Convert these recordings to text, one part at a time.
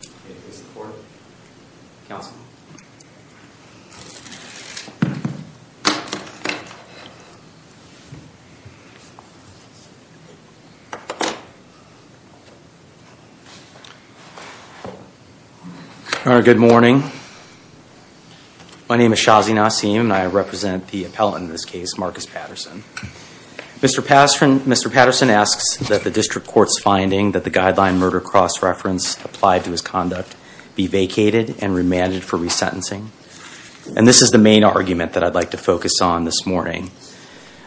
Good morning. My name is Shazi Nassim and I represent the appellant in this case, Markus Patterson. Mr. Patterson asks that the district court's finding that the guideline murder cross-reference applied to his conduct be vacated and remanded for resentencing. And this is the main argument that I'd like to focus on this morning.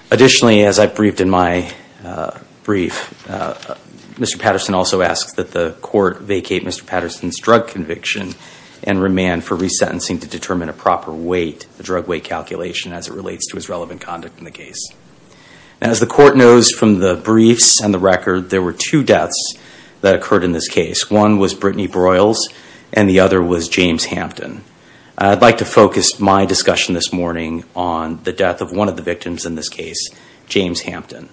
Additionally, as I briefed in my brief, Mr. Patterson also asks that the court vacate Mr. Patterson's drug conviction and remand for resentencing to determine a proper weight, the drug weight calculation as it relates to his relevant conduct in the case. And as the court knows from the briefs and the record, there were two deaths that occurred in this case. One was Brittany Broyles and the other was James Hampton. I'd like to focus my discussion this morning on the death of one of the victims in this case, James Hampton.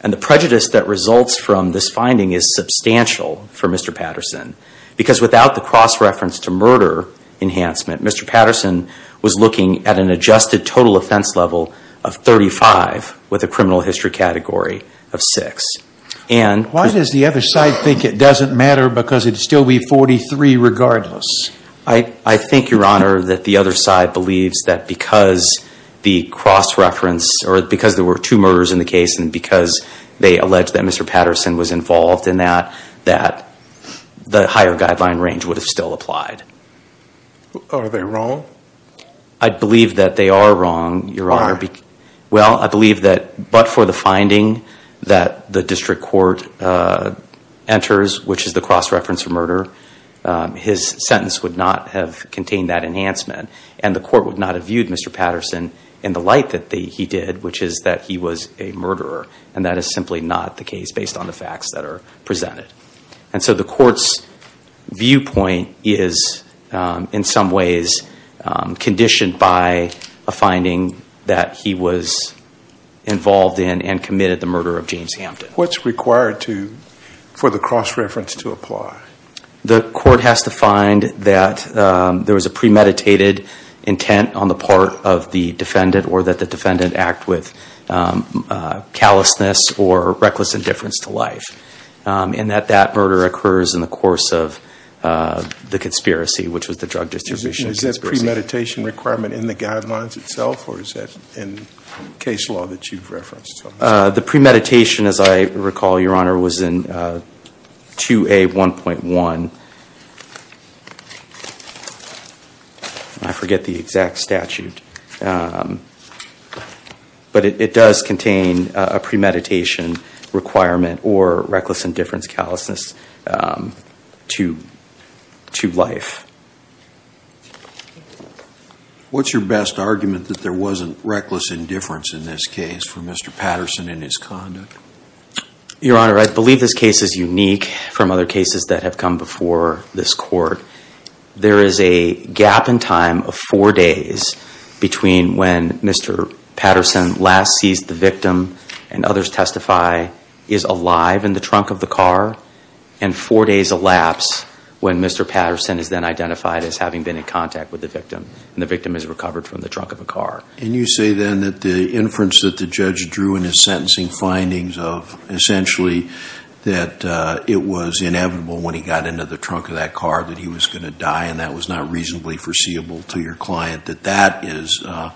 And the prejudice that results from this finding is substantial for Mr. Patterson because without the cross-reference to murder enhancement, Mr. Patterson was looking at an adjusted total offense level of 35 with a criminal history category of 6. Why does the other side think it doesn't matter because it'd still be 43 regardless? I think, Your Honor, that the other side believes that because the cross-reference or because there were two murders in the case and because they allege that Mr. Patterson was involved in that, that the higher guideline range would have still applied. Are they wrong? I believe that they are wrong, Your Honor. Why? Well, I believe that but for the finding that the district court enters, which is the cross-reference of murder, his sentence would not have contained that enhancement and the court would not have viewed Mr. Patterson in the light that he did, which is that he was a murderer. And that is simply not the case based on the facts that are presented. And so the court's viewpoint is in some ways conditioned by a finding that he was involved in and committed the murder of James Hampton. What's required for the cross-reference to apply? The court has to find that there was a premeditated intent on the part of the defendant or that the defendant act with callousness or reckless indifference to life. And that that murder occurs in the course of the conspiracy, which was the drug distribution. Is that premeditation requirement in the guidelines itself or is that in case law that you've referenced? The premeditation, as I recall, Your Honor, was in 2A1.1. I forget the exact statute. But it does contain a premeditation requirement or reckless indifference callousness to life. What's your best argument that there wasn't reckless indifference in this case for Mr. Patterson and his conduct? Your Honor, I believe this case is unique from other cases that have come before this court. There is a gap in time of four days between when Mr. Patterson last seized the victim and others testify is alive in the trunk of the car and four days elapse when Mr. Patterson is then identified as having been in contact with the victim and the victim is recovered from the trunk of the car. And you say then that the inference that the judge drew in his sentencing findings of essentially that it was inevitable when he got into the trunk of that car that he was going to die and that was not reasonably foreseeable to your client that that is a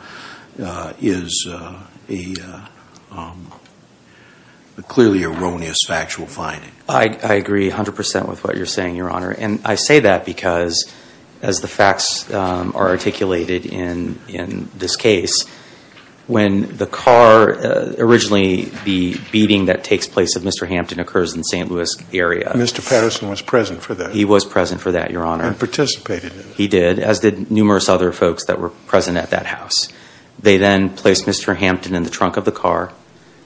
clearly erroneous factual finding. I agree 100% with what you're saying, Your Honor. And I say that because as the facts are articulated in this case, when the car, originally the beating that takes place of Mr. Hampton occurs in the St. Louis area. Mr. Patterson was present for that. He was present for that, Your Honor. And participated He did, as did numerous other folks that were present at that house. They then placed Mr. Hampton in the trunk of the car.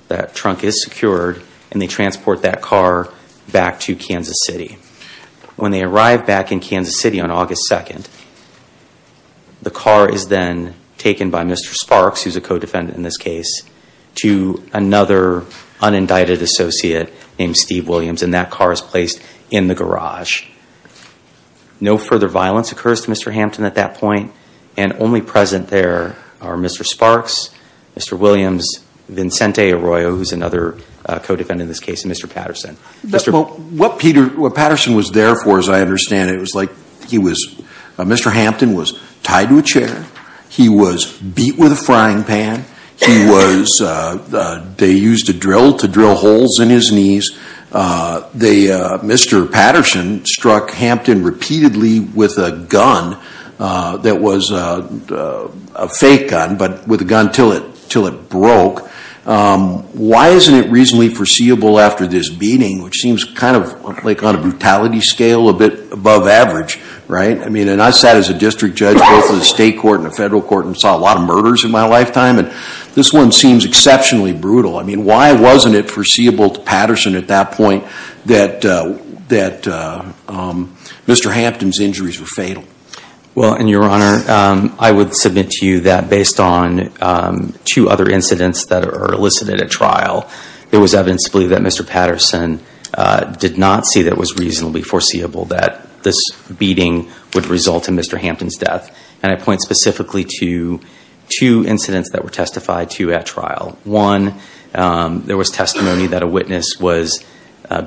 That trunk is secured and they transport that car back to Kansas City. When they arrive back in Kansas City on August 2nd, the car is then taken by Mr. Sparks, who's a co-defendant in this case, to another unindicted associate named Steve Williams and that car is placed in the garage. No further violence occurs to Mr. Hampton at that point and only present there are Mr. Sparks, Mr. Williams, Vincente Arroyo, who's another co-defendant in this case, and Mr. Patterson. What Peter, what Patterson was there for, as I understand it, was like he was, Mr. Hampton was tied to a chair. He was beat with a frying pan. He was, they used a drill to drill holes in his knees. They, Mr. Patterson struck Hampton repeatedly with a gun that was a fake gun, but with a gun until it broke. Why isn't it reasonably foreseeable after this beating, which seems kind of like on a brutality scale a bit above average, right? I mean, and I sat as a district judge both in the state court and the federal court and saw a lot of murders in my lifetime and this one seems exceptionally brutal. I mean, why wasn't it foreseeable to Patterson at that point that Mr. Hampton's injuries were fatal? Well, in your honor, I would submit to you that based on two other incidents that are elicited at trial, there was evidence to believe that Mr. Patterson did not see that it was reasonably foreseeable that this beating would result in Mr. Hampton's death. And I point specifically to two incidents that were testified to at trial. One, there was testimony that a witness was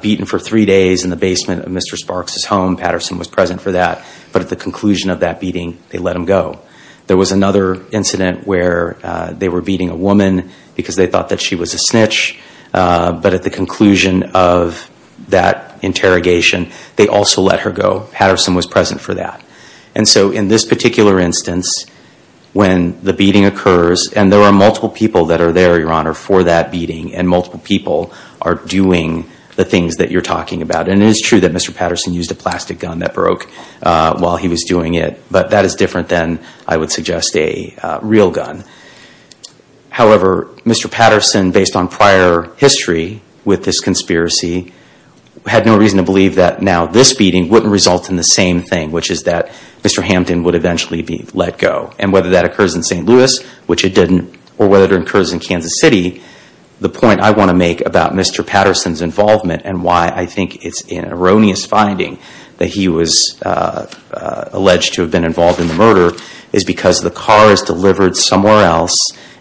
beaten for three days in the basement of Mr. Sparks' home. Patterson was present for that, but at the conclusion of that beating, they let him go. There was another incident where they were beating a woman because they thought that she was a snitch, but at the conclusion of that interrogation, they also let her go. Patterson was present for that. And so in this particular instance, when the beating occurs, and there are multiple people that are there, your honor, for that beating, and multiple people are doing the things that you're talking about. And it is true that Mr. Patterson used a plastic gun that broke while he was doing it, but that is different than, I would suggest, a real gun. However, Mr. Patterson, based on prior history with this conspiracy, had no reason to believe that now this beating wouldn't result in the same thing, which is that Mr. Hampton would eventually be let go. And whether that occurs in St. Louis, which it didn't, or whether it occurs in Kansas City, the point I want to make about Mr. Patterson's involvement and why I think it's an erroneous finding that he was alleged to have been involved in the murder, is because the car is delivered somewhere else,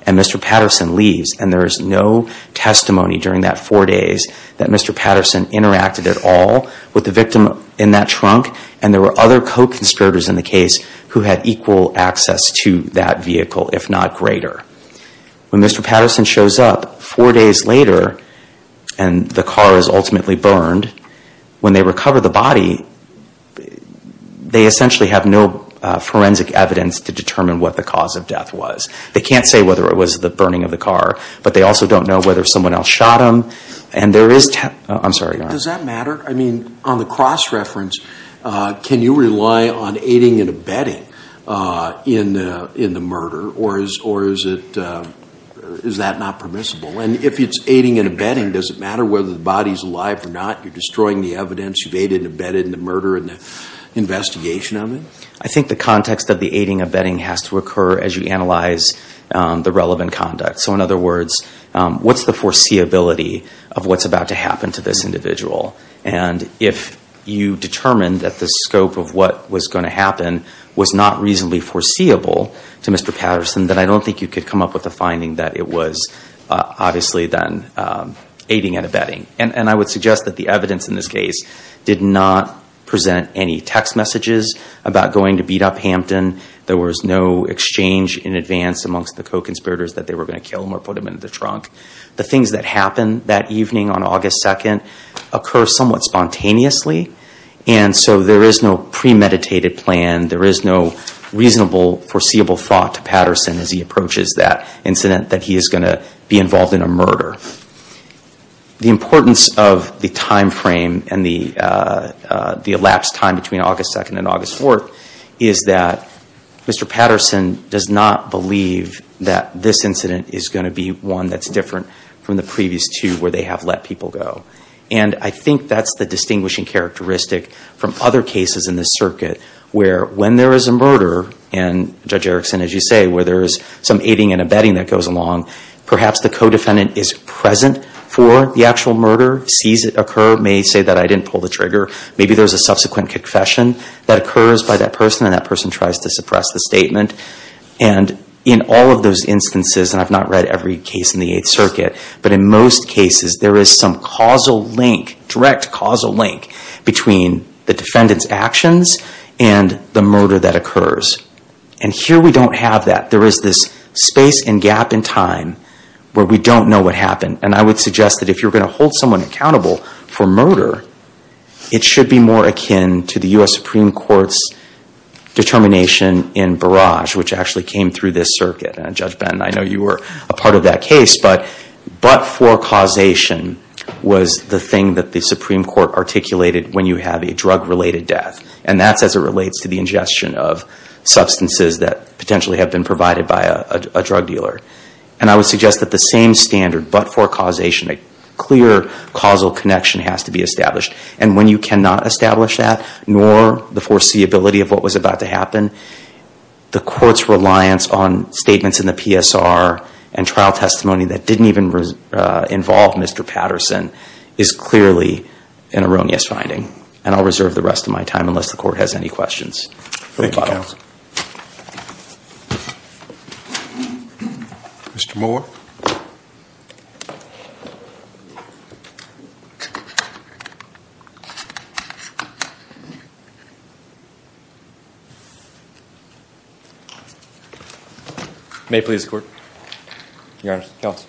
and Mr. Patterson leaves. And there is no testimony during that four days that Mr. Patterson interacted at all with the victim in that trunk, and there were other co-conspirators in the case who had equal access to that vehicle, if not greater. When Mr. Patterson shows up four days later, and the car is ultimately burned, when they recover the body, they essentially have no forensic evidence to determine what the cause of death was. They can't say whether it was the burning of the car, but they also don't know whether someone else shot him, and there is... I'm sorry, go on. Does that matter? I mean, on the cross-reference, can you rely on aiding and abetting in the murder, or is that not permissible? And if it's aiding and abetting, does it matter whether the body's alive or not? You're destroying the evidence. You've aided and abetted in the murder and the investigation of it. I think the context of the aiding and abetting has to occur as you analyze the relevant conduct. So in other words, what's the foreseeability of what's about to happen to this individual? And if you determine that the scope of what was going to happen was not reasonably foreseeable to Mr. Patterson, then I don't think you could come up with a finding that it was obviously then aiding and abetting. And I would suggest that the evidence in this case did not present any text messages about going to beat up Hampton. There was no exchange in advance amongst the co-conspirators that they were going to kill him or put him in the trunk. The things that happened that evening on August 2nd occur somewhat spontaneously, and so there is no premeditated plan. There is no reasonable, foreseeable thought to Patterson as he approaches that incident that he is going to be involved in a murder. The importance of the time frame and the elapsed time between August 2nd and August 4th is that Mr. Patterson does not believe that this incident is going to be one that's different from the previous two where they have let people go. And I think that's the distinguishing characteristic from other cases in this circuit where when there is a murder, and Judge Erickson, as you say, where there is some aiding and abetting that goes along, perhaps the co-defendant is present for the actual murder, sees it occur, may say that I didn't pull the trigger. Maybe there is a subsequent confession that occurs by that person, and that person tries to suppress the statement. And in all of those instances, and I've not read every case in the Eighth Circuit, but in most cases there is some causal link, direct causal link, between the fact that there is this space and gap in time where we don't know what happened. And I would suggest that if you're going to hold someone accountable for murder, it should be more akin to the U.S. Supreme Court's determination in Barrage, which actually came through this circuit. And Judge Benton, I know you were a part of that case, but but-for causation was the thing that the Supreme Court articulated when you have a drug-related death. And that's as it relates to the ingestion of substances that potentially have been provided by a drug dealer. And I would suggest that the same standard but-for causation, a clear causal connection has to be established. And when you cannot establish that, nor the foreseeability of what was about to happen, the Court's reliance on statements in the PSR and trial testimony that didn't even involve Mr. Patterson is clearly an erroneous finding. And I'll reserve the rest of my time unless the Court has any questions. Thank you, Counsel. Mr. Moore. May it please the Court. Your Honor. Counsel.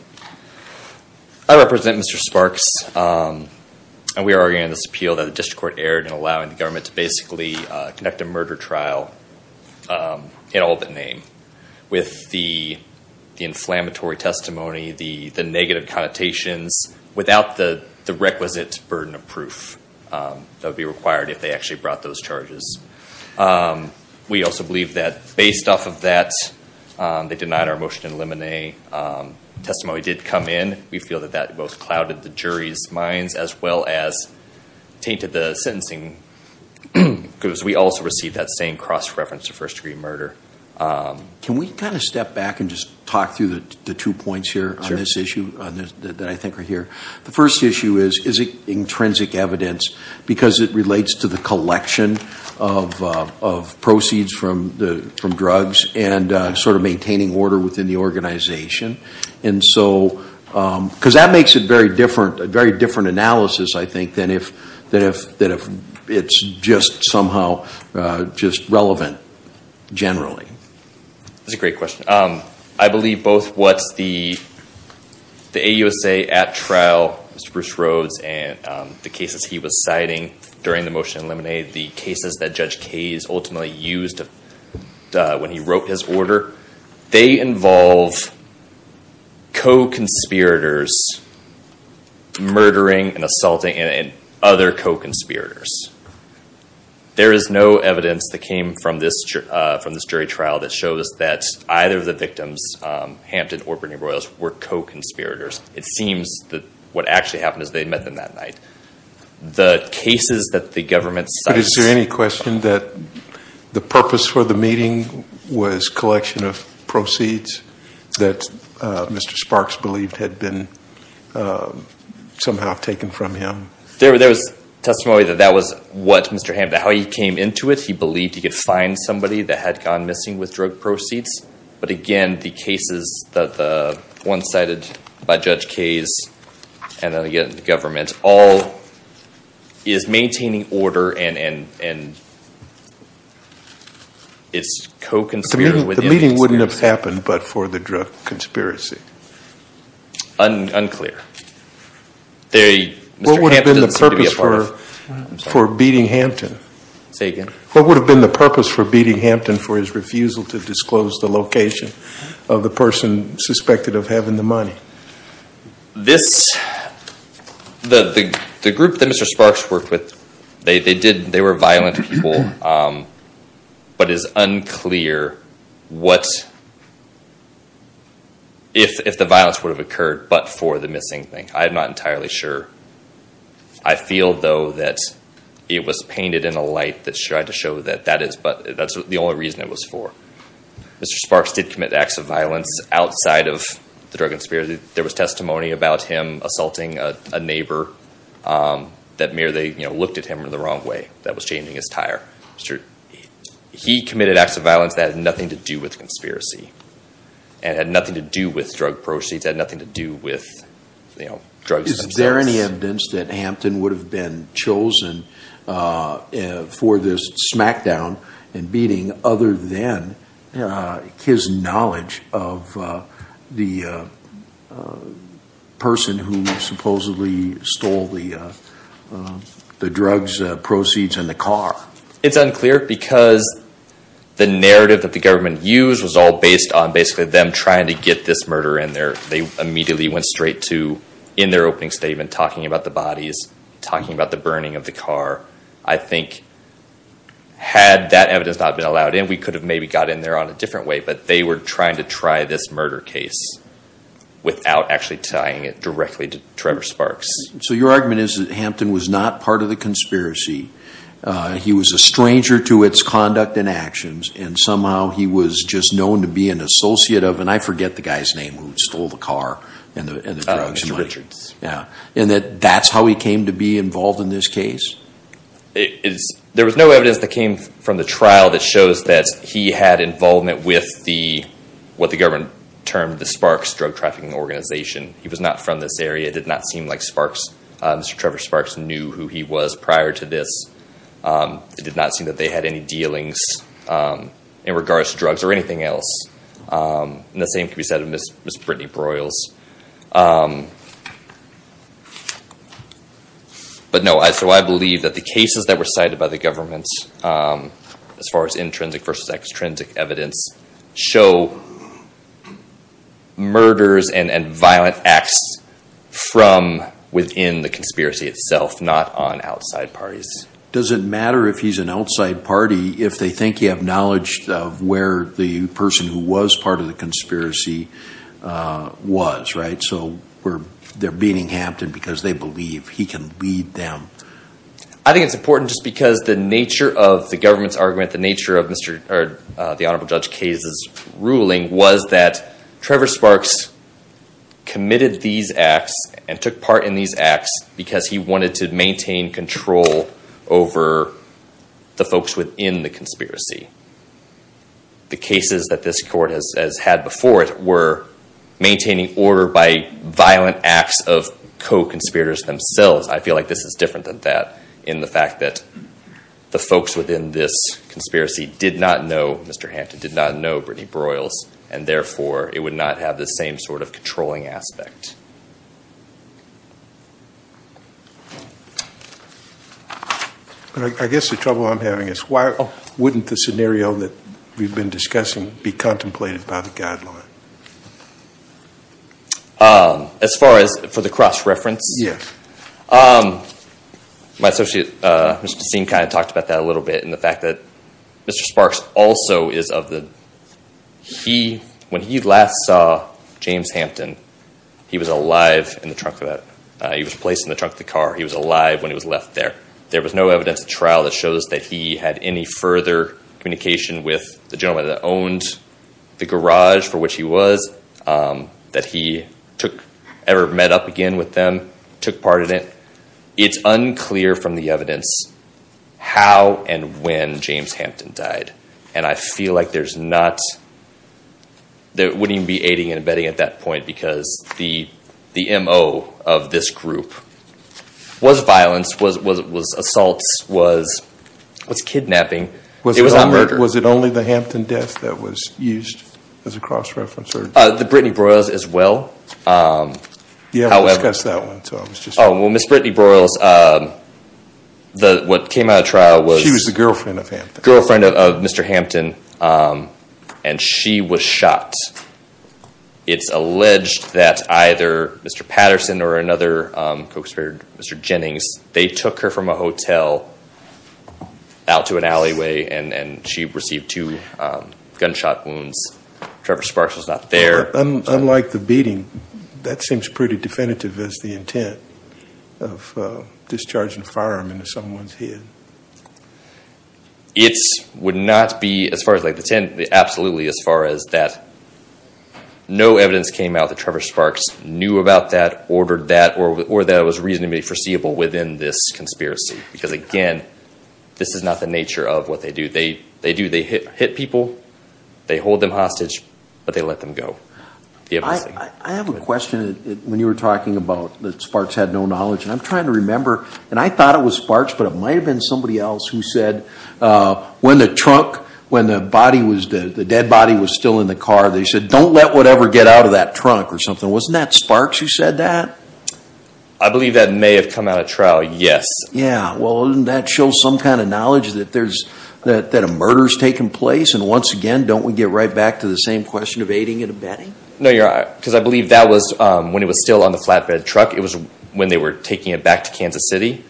I represent Mr. Sparks. And we are arguing in this appeal that the District Court erred in allowing the government to basically conduct a murder trial in all but name. With the inflammatory testimony, the negative connotations, without the requisite burden of proof that would be required if they actually brought those charges. We also believe that based off of that, they denied our motion to eliminate. Testimony did come in. We feel that that both clouded the jury's minds as well as tainted the sentencing. Because we also received that same cross-reference to first-degree murder. Can we kind of step back and just talk through the two points here on this issue that I think are here? The first issue is, is it intrinsic evidence because it relates to the collection of proceeds from drugs and sort of maintaining order within the organization? And so, because that makes it very different, a very different analysis, I think, than if it's just somehow just relevant generally. That's a great question. I believe both what the AUSA at trial, Mr. Bruce Rhodes, and the cases he was citing during the motion to eliminate, the cases that Judge Kays ultimately used when he wrote his order, they involve co-conspirators murdering and assaulting and other co-conspirators. There is no evidence that came from this jury trial that shows that either of the victims, Hampton or Bernie Royals, were co-conspirators. It seems that what actually happened is they met them that night. The cases that the government cites... But is there any question that the purpose for the meeting was collection of proceeds that Mr. Sparks believed had been somehow taken from him? There was testimony that that was what Mr. Hampton, how he came into it. He believed he could find somebody that had gone missing with drug proceeds. But again, the cases that the one cited by Judge Kays, and again the government, all is maintaining order and is co-conspirator. The meeting wouldn't have happened but for the drug conspiracy. Unclear. What would have been the purpose for beating Hampton? Say again? What would have been the purpose for beating Hampton for his refusal to disclose the location of the person suspected of having the money? The group that Mr. Sparks worked with, they were violent people, but it is unclear if the violence would have occurred but for the missing thing. I am not entirely sure. I feel though that it was painted in a light that tried to show that that is the only reason it was for. Mr. Sparks did commit acts of violence outside of the drug conspiracy. There was testimony about him assaulting a neighbor that merely looked at him in the wrong way. That was changing his tire. He committed acts of violence that had nothing to do with conspiracy and had nothing to do with drug proceeds, had nothing to do with drugs themselves. Is there any evidence that Hampton would have been chosen for this smackdown and beating other than his knowledge of the person who supposedly stole the drugs proceeds in the car? It is unclear because the narrative that the government used was all based on basically them trying to get this murder in there. They immediately went straight to, in their opening statement, talking about the bodies, talking about the burning of the car. I think had that evidence not been allowed in, we could have maybe got in there on a different way, but they were trying to try this murder case without actually tying it directly to Trevor Sparks. So your argument is that Hampton was not part of the conspiracy. He was a stranger to its conduct and actions and somehow he was just known to be an associate of, and I forget the guy's name who stole the car and the drugs. And that's how he came to be involved in this case? There was no evidence that came from the trial that shows that he had involvement with what the government termed the Sparks Drug Trafficking Organization. He was not from this area. It did not seem like Mr. Trevor Sparks knew who he was prior to this. It did not seem that they had any dealings in regards to drugs or anything else. And the same can be said of Ms. Brittany Broyles. But no, so I believe that the cases that were cited by the government, as far as intrinsic versus extrinsic evidence, show murders and violent acts from within the conspiracy itself, not on outside parties. Does it matter if he's an outside party if they think you have knowledge of where the person who was part of the conspiracy was, right? So they're beating Hampton because they believe he can lead them. I think it's important just because the nature of the government's argument, the nature of the Honorable Judge Kays' ruling was that Trevor Sparks committed these acts and took part in these acts because he wanted to maintain control over the folks within the conspiracy. The cases that this court has had before it were maintaining order by violent acts of co-conspirators themselves. I feel like this is different than that in the fact that the folks within this conspiracy did not know Mr. Hampton, did not know Brittany Broyles, and therefore it would not have the same sort of controlling aspect. I guess the trouble I'm having is why wouldn't the scenario that we've been discussing be contemplated by the guideline? As far as for the cross-reference, my associate, Mr. Steen, kind of talked about that a little bit in the fact that Mr. Sparks also is of the... When he last saw James Hampton, he was alive in the trunk of the car. He was alive when he was left there. There was no evidence at trial that shows that he had any further communication with the gentleman that owned the garage for which he was, that he ever met up again with them, took part in it. It's unclear from the evidence how and when James Hampton died. I feel like there wouldn't even be aiding and abetting at that point because the M.O. of this group was violence, was assaults, was kidnapping. It was a murder. Was it only the Hampton death that was used as a cross-reference? The Brittany Broyles as well. Miss Brittany Broyles, what came out of trial was... She was the girlfriend of Hampton. She was shot. It's alleged that either Mr. Patterson or another co-conspirator, Mr. Jennings, they took her from a hotel out to an alleyway and she received two gunshot wounds. Trevor Sparks was not there. Unlike the beating, that seems pretty definitive as the intent of discharging a firearm into someone's head. It would not be, as far as the intent, absolutely as far as that no evidence came out that Trevor Sparks knew about that, ordered that, or that it was reasonably foreseeable within this conspiracy. Because again, this is not the nature of what they do. They hit people, they hold them hostage, but they let them go. I have a question when you were talking about that Sparks had no knowledge. I'm trying to remember, and I thought it was Sparks, but it might have been somebody else who said, when the dead body was still in the car, they said, don't let whatever get out of that trunk or something. Wasn't that Sparks who said that? I believe that may have come out of trial, yes. Doesn't that show some kind of knowledge that a murder has taken place? Once again, don't we get right back to the same question of aiding and abetting? No, because I believe that was when it was still on the flatbed truck. It was when they were taking it back to Kansas City.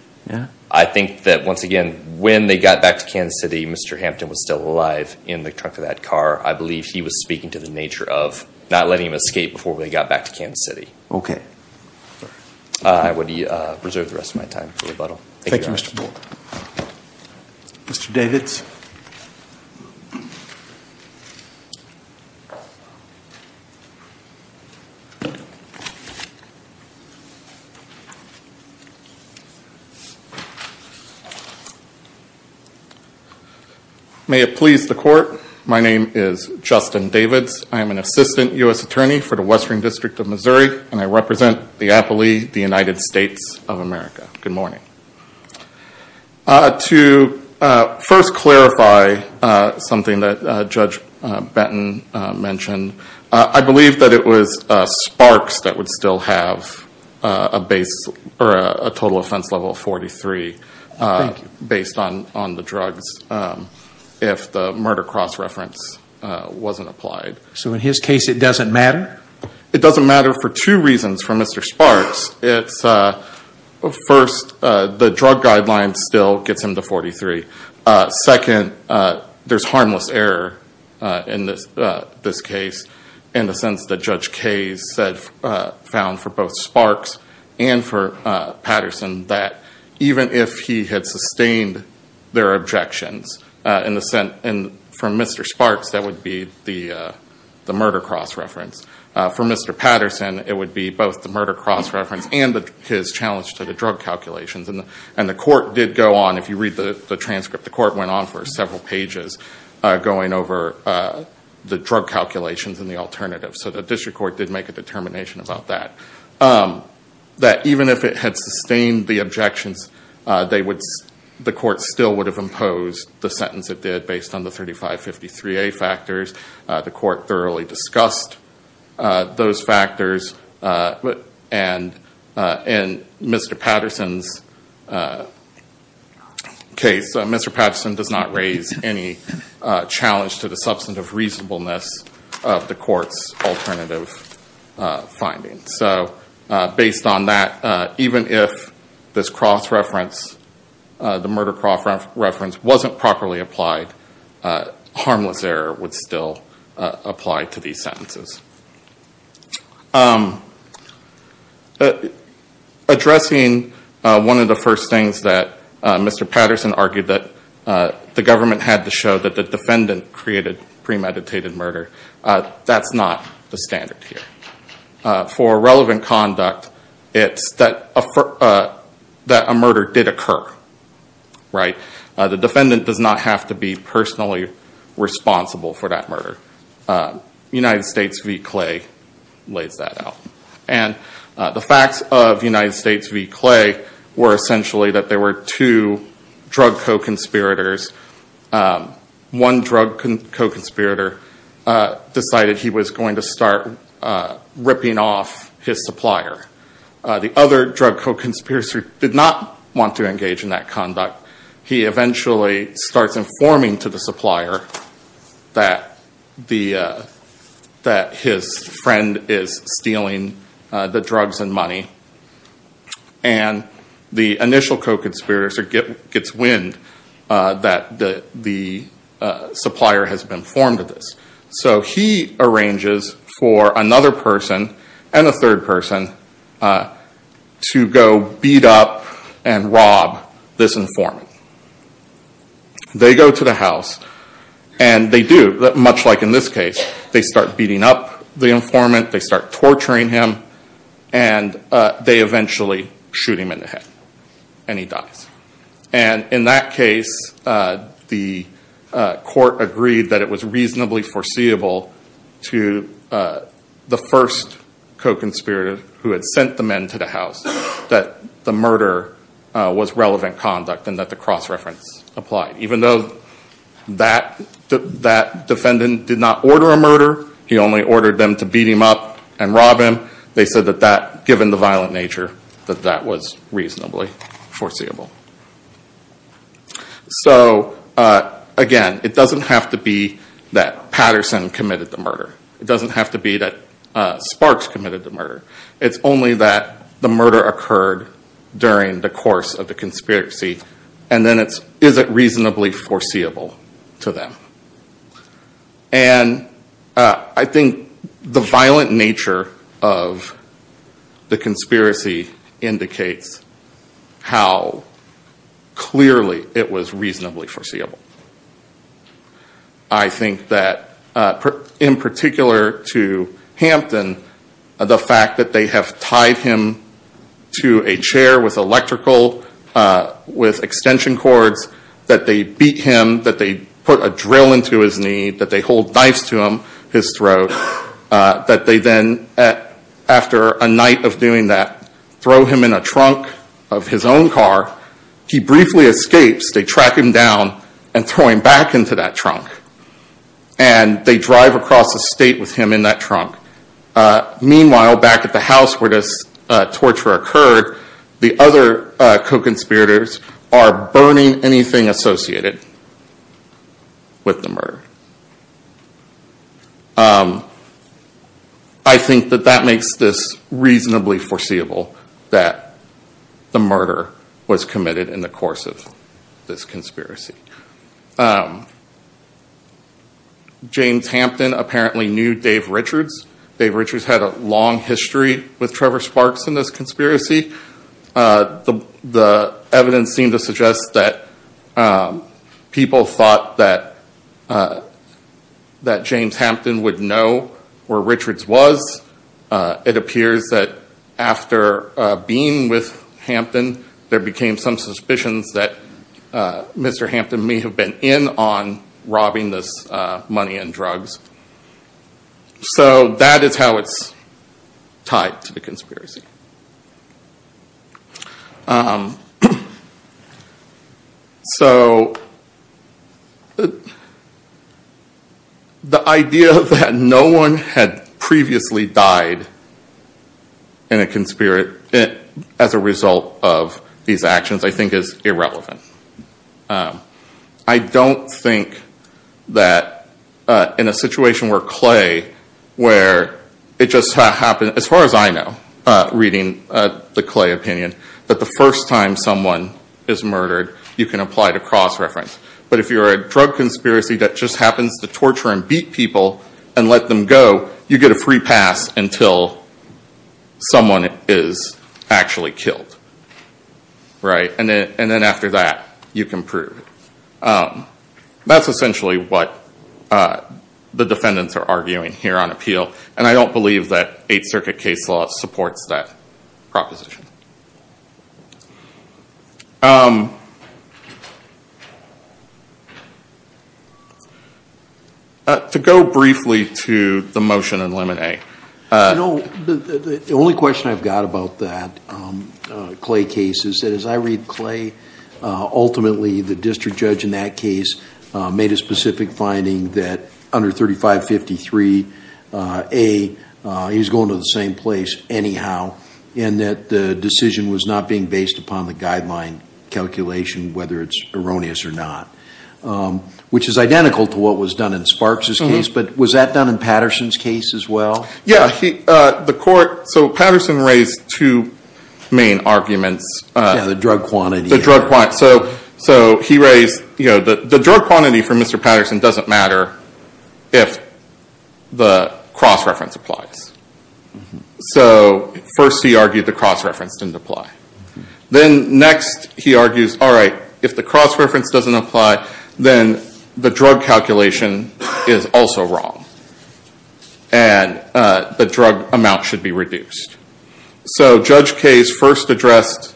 I think that once again, when they got back to Kansas City, Mr. Hampton was still alive in the trunk of that car. I believe he was speaking to the nature of not letting him escape before they got back to Kansas City. I would reserve the rest of my time for rebuttal. Thank you, Mr. Board. May it please the Court, my name is Justin Davids. To first clarify something that Judge Benton mentioned, I believe that it was Sparks that would still have a base, or a total offense level of 43 based on the drugs, if the murder cross-reference wasn't applied. So in his case, it doesn't matter? It doesn't matter for two reasons from Mr. Sparks. First, the drug guideline still gets him to 43. Second, there's harmless error in this case, in the sense that Judge Kaye said, found for both Sparks and for Patterson, that even if he had sustained their objections, from Mr. Sparks, that would be the murder cross-reference. From Mr. Patterson, it would be both the murder cross-reference and his challenge to the drug calculations. And the Court did go on, if you read the transcript, the Court went on for several pages, going over the drug calculations and the alternatives. So the District Court did make a determination about that. That even if it had sustained the objections, the Court still would have imposed the sentence it did, based on the 3553A factors. The Court thoroughly discussed those factors. And in Mr. Patterson's case, Mr. Patterson does not raise any challenge to the substantive reasonableness of the Court's alternative findings. So based on that, even if this cross-reference, the murder cross-reference, wasn't properly applied, harmless error would still apply to these sentences. Addressing one of the first things that Mr. Patterson argued that the government had to show that the defendant created premeditated murder, that's not the standard here. For relevant conduct, it's that a murder did occur. The defendant does not have to be personally responsible for that murder. United States v. Clay lays that out. And the facts of United States v. Clay were essentially that there were two drug co-conspirators. One drug co-conspirator decided he was going to start ripping off his supplier. The other drug co-conspirator did not want to engage in that conduct. He eventually starts informing to the supplier that his friend is stealing drugs. And the initial co-conspirator gets wind that the supplier has been informed of this. So he arranges for another person and a third person to go beat up and rob this informant. They go to the house and they do, much like in this case. They start beating up the informant, they start torturing him, and they eventually shoot him in the head. And he dies. And in that case, the court agreed that it was reasonably foreseeable to the first co-conspirator who had sent the men to the house that the murder was relevant conduct and that the cross reference applied. Even though that defendant did not order a murder, he only ordered them to beat him up and rob him. They said that given the violent nature, that that was reasonably foreseeable. So again, it doesn't have to be that Patterson committed the murder. It doesn't have to be that Sparks committed the murder. It's only that the murder occurred during the course of the conspiracy. And then is it reasonably foreseeable to them? And I think the violent nature of the conspiracy indicates how clearly it was reasonably foreseeable. I think that in particular to Hampton, the fact that they have tied him to a chair with electrical, with extension cords, that they beat him, that they put a drill into his knee, that they hold knives to his throat, that they then, after a night of doing that, throw him in a trunk of his own car. He briefly escapes. They track him down and throw him back into that trunk. And they drive across the state with him in that trunk. Meanwhile, back at the house where this torture occurred, the other co-conspirators are burning anything associated with the murder. I think that that makes this reasonably foreseeable, that the murder was committed in the course of this conspiracy. James Hampton apparently knew Dave Richards. Dave Richards had a long history with Trevor Sparks in this conspiracy. The evidence seemed to suggest that people thought that James Hampton would know where Richards was. It appears that after being with Hampton, there became some suspicions that Mr. Hampton may have been in on robbing this money and drugs. So that is how it's tied to the conspiracy. So the idea that no one had previously died as a result of these actions, I think, is irrelevant. I don't think that in a situation where Clay, as far as I know, reading the Clay opinion, that the first time someone is murdered, you can apply to cross-reference. But if you're a drug conspiracy that just happens to torture and beat people and let them go, you get a free pass until someone is actually killed. And then after that, you can prove it. That's essentially what the defendants are arguing here on appeal, and I don't believe that Eighth Circuit case law supports that proposition. To go briefly to the motion in limit A. The only question I've got about that Clay case is that as I read Clay, ultimately the district judge in that case made a specific finding that under 3553A, he was going to the same place anyhow, and that the decision was not being based upon the guideline calculation, whether it's erroneous or not. Which is identical to what was done in Sparks' case, but was that done in Patterson's case as well? Yeah. So Patterson raised two main arguments. Yeah, the drug quantity. The drug quantity for Mr. Patterson doesn't matter if the cross-reference applies. So first he argued the cross-reference didn't apply. Then next he argues, all right, if the cross-reference doesn't apply, then the drug calculation is also wrong. And the drug amount should be reduced. So Judge Case first addressed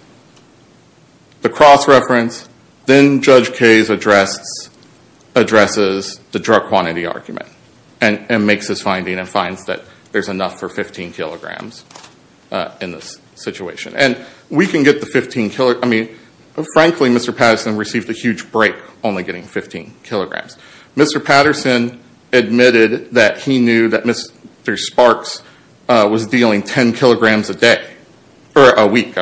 the cross-reference, then Judge Case addresses the drug quantity argument. And makes his finding and finds that there's enough for 15 kilograms in this situation. Frankly, Mr. Patterson received a huge break only getting 15 kilograms. Mr. Patterson admitted that he knew that Mr. Sparks was dealing 10 kilograms a week.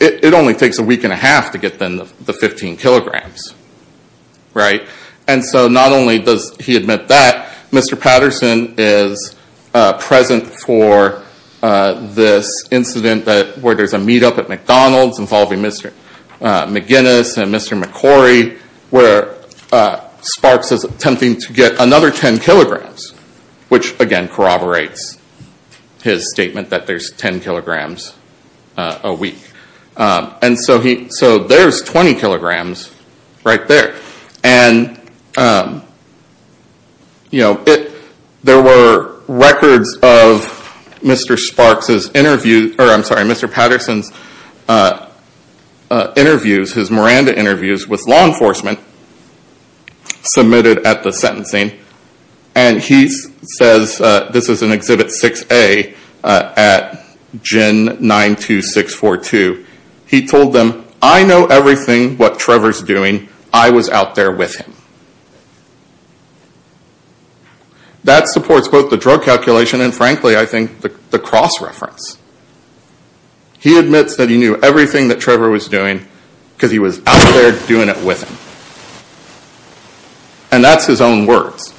It only takes a week and a half to get the 15 kilograms. And so not only does he admit that, Mr. Patterson is present for this incident where there's a meetup at McDonald's involving Mr. McGinnis and Mr. McCorry, where Sparks is attempting to get another 10 kilograms. Which, again, corroborates his statement that there's 10 kilograms a week. And so there's 20 kilograms right there. And there were records of Mr. Sparks' interview, or I'm sorry, Mr. Patterson's interviews, his Miranda interviews with law enforcement submitted at the sentencing. And he says, this is in Exhibit 6A at Gin 92642, he told them, I know everything what Trevor's doing, I was out there with him. That supports both the drug calculation and frankly, I think, the cross-reference. He admits that he knew everything that Trevor was doing because he was out there doing it with him. And that's his own words.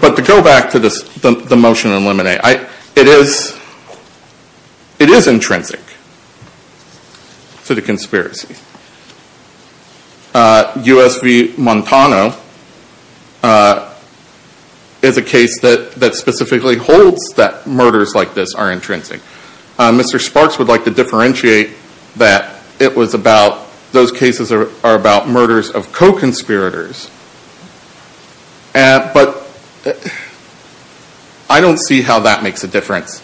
But to go back to the motion to eliminate, it is intrinsic to the conspiracy. US v. Montano is a case that specifically holds that murders like this are intrinsic. Mr. Sparks would like to differentiate that it was about, those cases are about murders of co-conspirators. But I don't see how that makes a difference.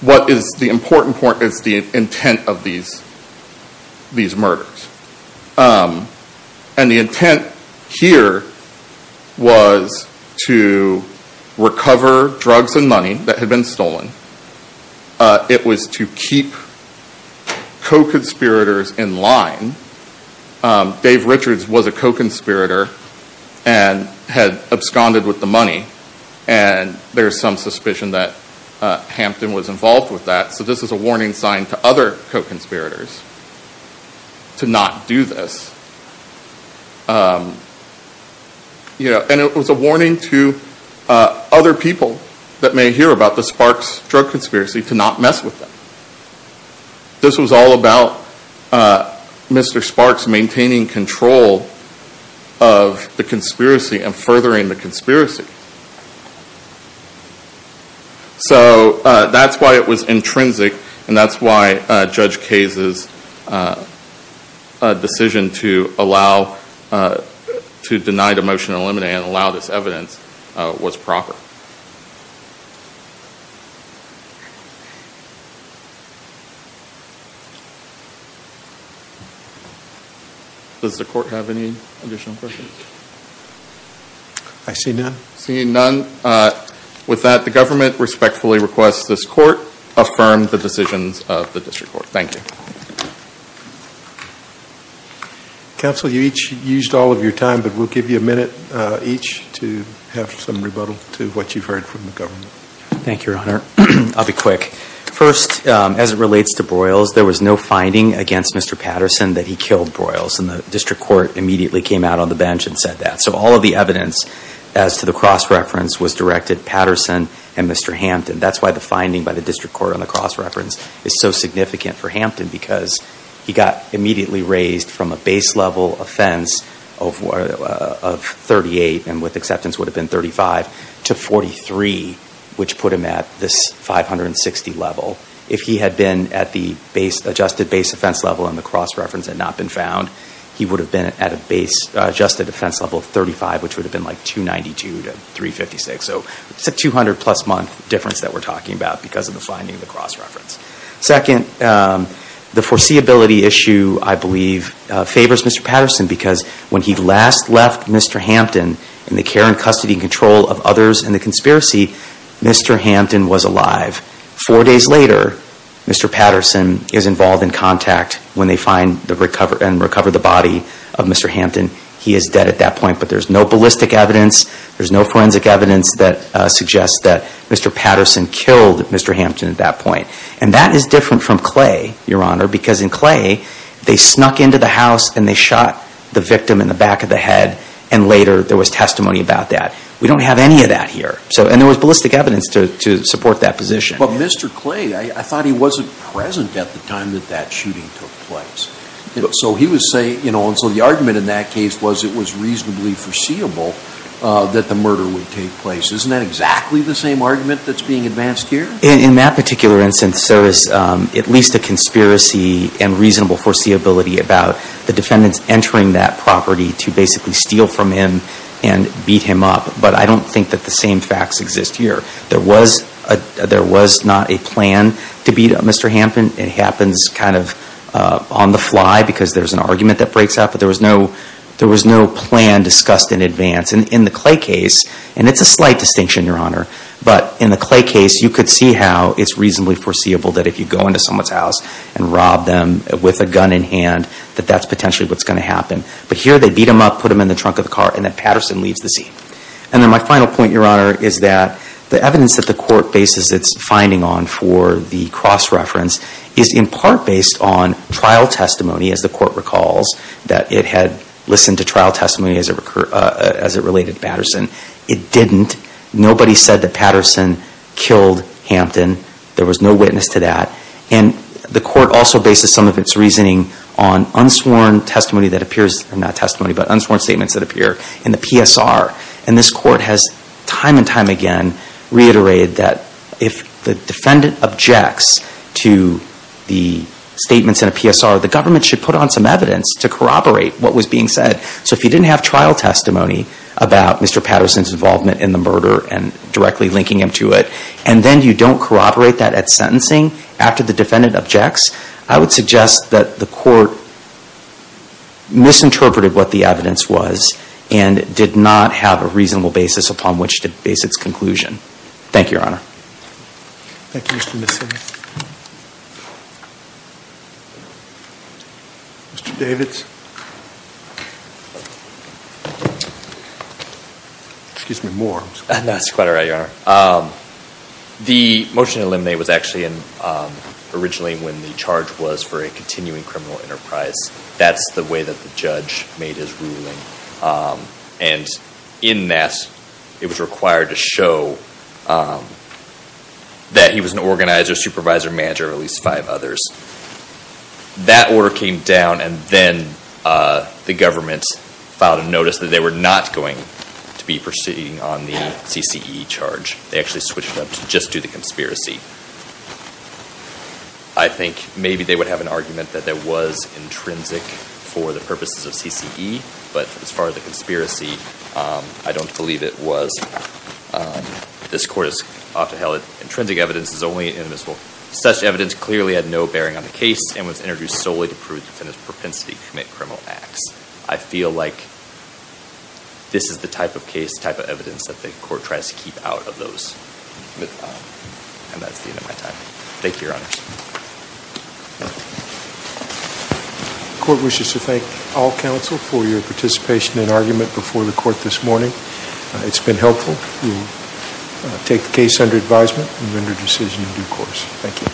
What is the important part is the intent of these murders. And the intent here was to recover drugs and money that had been stolen. It was to keep co-conspirators in line. Dave Richards was a co-conspirator and had absconded with the money. And there's some suspicion that Hampton was involved with that. So this is a warning sign to other co-conspirators to not do this. And it was a warning to other people that may hear about the Sparks Drug Conspiracy to not mess with them. This was all about Mr. Sparks maintaining control of the conspiracy and furthering the conspiracy. So that's why it was intrinsic and that's why Judge Case's decision to eliminate Mr. Sparks. To allow, to deny the motion to eliminate and allow this evidence was proper. Does the court have any additional questions? Seeing none, with that the government respectfully requests this court affirm the decisions of the district court. Thank you. You each used all of your time, but we'll give you a minute each to have some rebuttal to what you've heard from the government. Thank you, Your Honor. I'll be quick. First, as it relates to Broyles, there was no finding against Mr. Patterson that he killed Broyles. And the district court immediately came out on the bench and said that. So all of the evidence as to the cross-reference was directed Patterson and Mr. Hampton. That's why the finding by the district court on the cross-reference is so significant for Hampton. Because he got immediately raised from a base level offense of 38, and with acceptance would have been 35, to 43, which put him at this 560 level. If he had been at the adjusted base offense level on the cross-reference and not been found, he would have been at an adjusted offense level of 35, which would have been like 292 to 356. So it's a 200 plus month difference that we're talking about because of the finding of the cross-reference. Second, the foreseeability issue, I believe, favors Mr. Patterson because when he last left Mr. Hampton, in the care and custody and control of others in the conspiracy, Mr. Hampton was alive. Four days later, Mr. Patterson is involved in contact when they find and recover the body of Mr. Hampton. He is dead at that point, but there's no ballistic evidence. There's no forensic evidence that suggests that Mr. Patterson killed Mr. Hampton at that point. And that is different from Clay, Your Honor, because in Clay, they snuck into the house, and they shot the victim in the back of the head, and later there was testimony about that. We don't have any of that here. And there was ballistic evidence to support that position. But Mr. Clay, I thought he wasn't present at the time that that shooting took place. And so the argument in that case was it was reasonably foreseeable that the murder would take place. Isn't that exactly the same argument that's being advanced here? In that particular instance, there is at least a conspiracy and reasonable foreseeability about the defendants entering that property to basically steal from him and beat him up. But I don't think that the same facts exist here. There was not a plan to beat up Mr. Hampton. It happens kind of on the fly, because there's an argument that breaks out, but there was no plan discussed in advance. In the Clay case, and it's a slight distinction, Your Honor, but in the Clay case, you could see how it's reasonably foreseeable that if you go into someone's house and rob them with a gun in hand, that that's potentially what's going to happen. But here, they beat him up, put him in the trunk of the car, and then Patterson leaves the scene. And then my final point, Your Honor, is that the evidence that the Court bases its finding on for the cross-reference is in part based on trial testimony, as the Court recalls, that it had listened to trial testimony as it related to Patterson. It didn't. Nobody said that Patterson killed Hampton. There was no witness to that. And the Court also bases some of its reasoning on unsworn testimony that appears, not testimony, but unsworn statements that appear in the PSR. And this Court has time and time again reiterated that if the defendant objects to the statements in a PSR, the government should put on some evidence to corroborate what was being said. So if you didn't have trial testimony about Mr. Patterson's involvement in the murder and directly linking him to it, and then you don't corroborate that at sentencing after the defendant objects, I would suggest that the Court misinterpreted what the evidence was and did not have a reasonable basis upon which to base its conclusion. Thank you, Your Honor. Thank you, Mr. Nissen. Mr. Davids. Excuse me, more. No, it's quite all right, Your Honor. The motion to eliminate was actually originally when the charge was for a continuing criminal enterprise. That's the way that the judge made his ruling. And in that, it was required to show that he was an organizer, supervisor, manager of at least five others. That order came down and then the government filed a notice that they were not going to be proceeding on the CCE charge. They actually switched them to just do the conspiracy. I think maybe they would have an argument that that was intrinsic for the purposes of CCE, but as far as the conspiracy, I don't believe it was. This Court has often held that intrinsic evidence is only an inimitable. Such evidence clearly had no bearing on the case and was introduced solely to prove the defendant's propensity to commit criminal acts. I feel like this is the type of case, type of evidence that the Court tries to keep out of those. And that's the end of my time. Thank you, Your Honors. The Court wishes to thank all counsel for your participation in argument before the Court this morning. It's been helpful. We'll take the case under advisement and render a decision in due course. Thank you.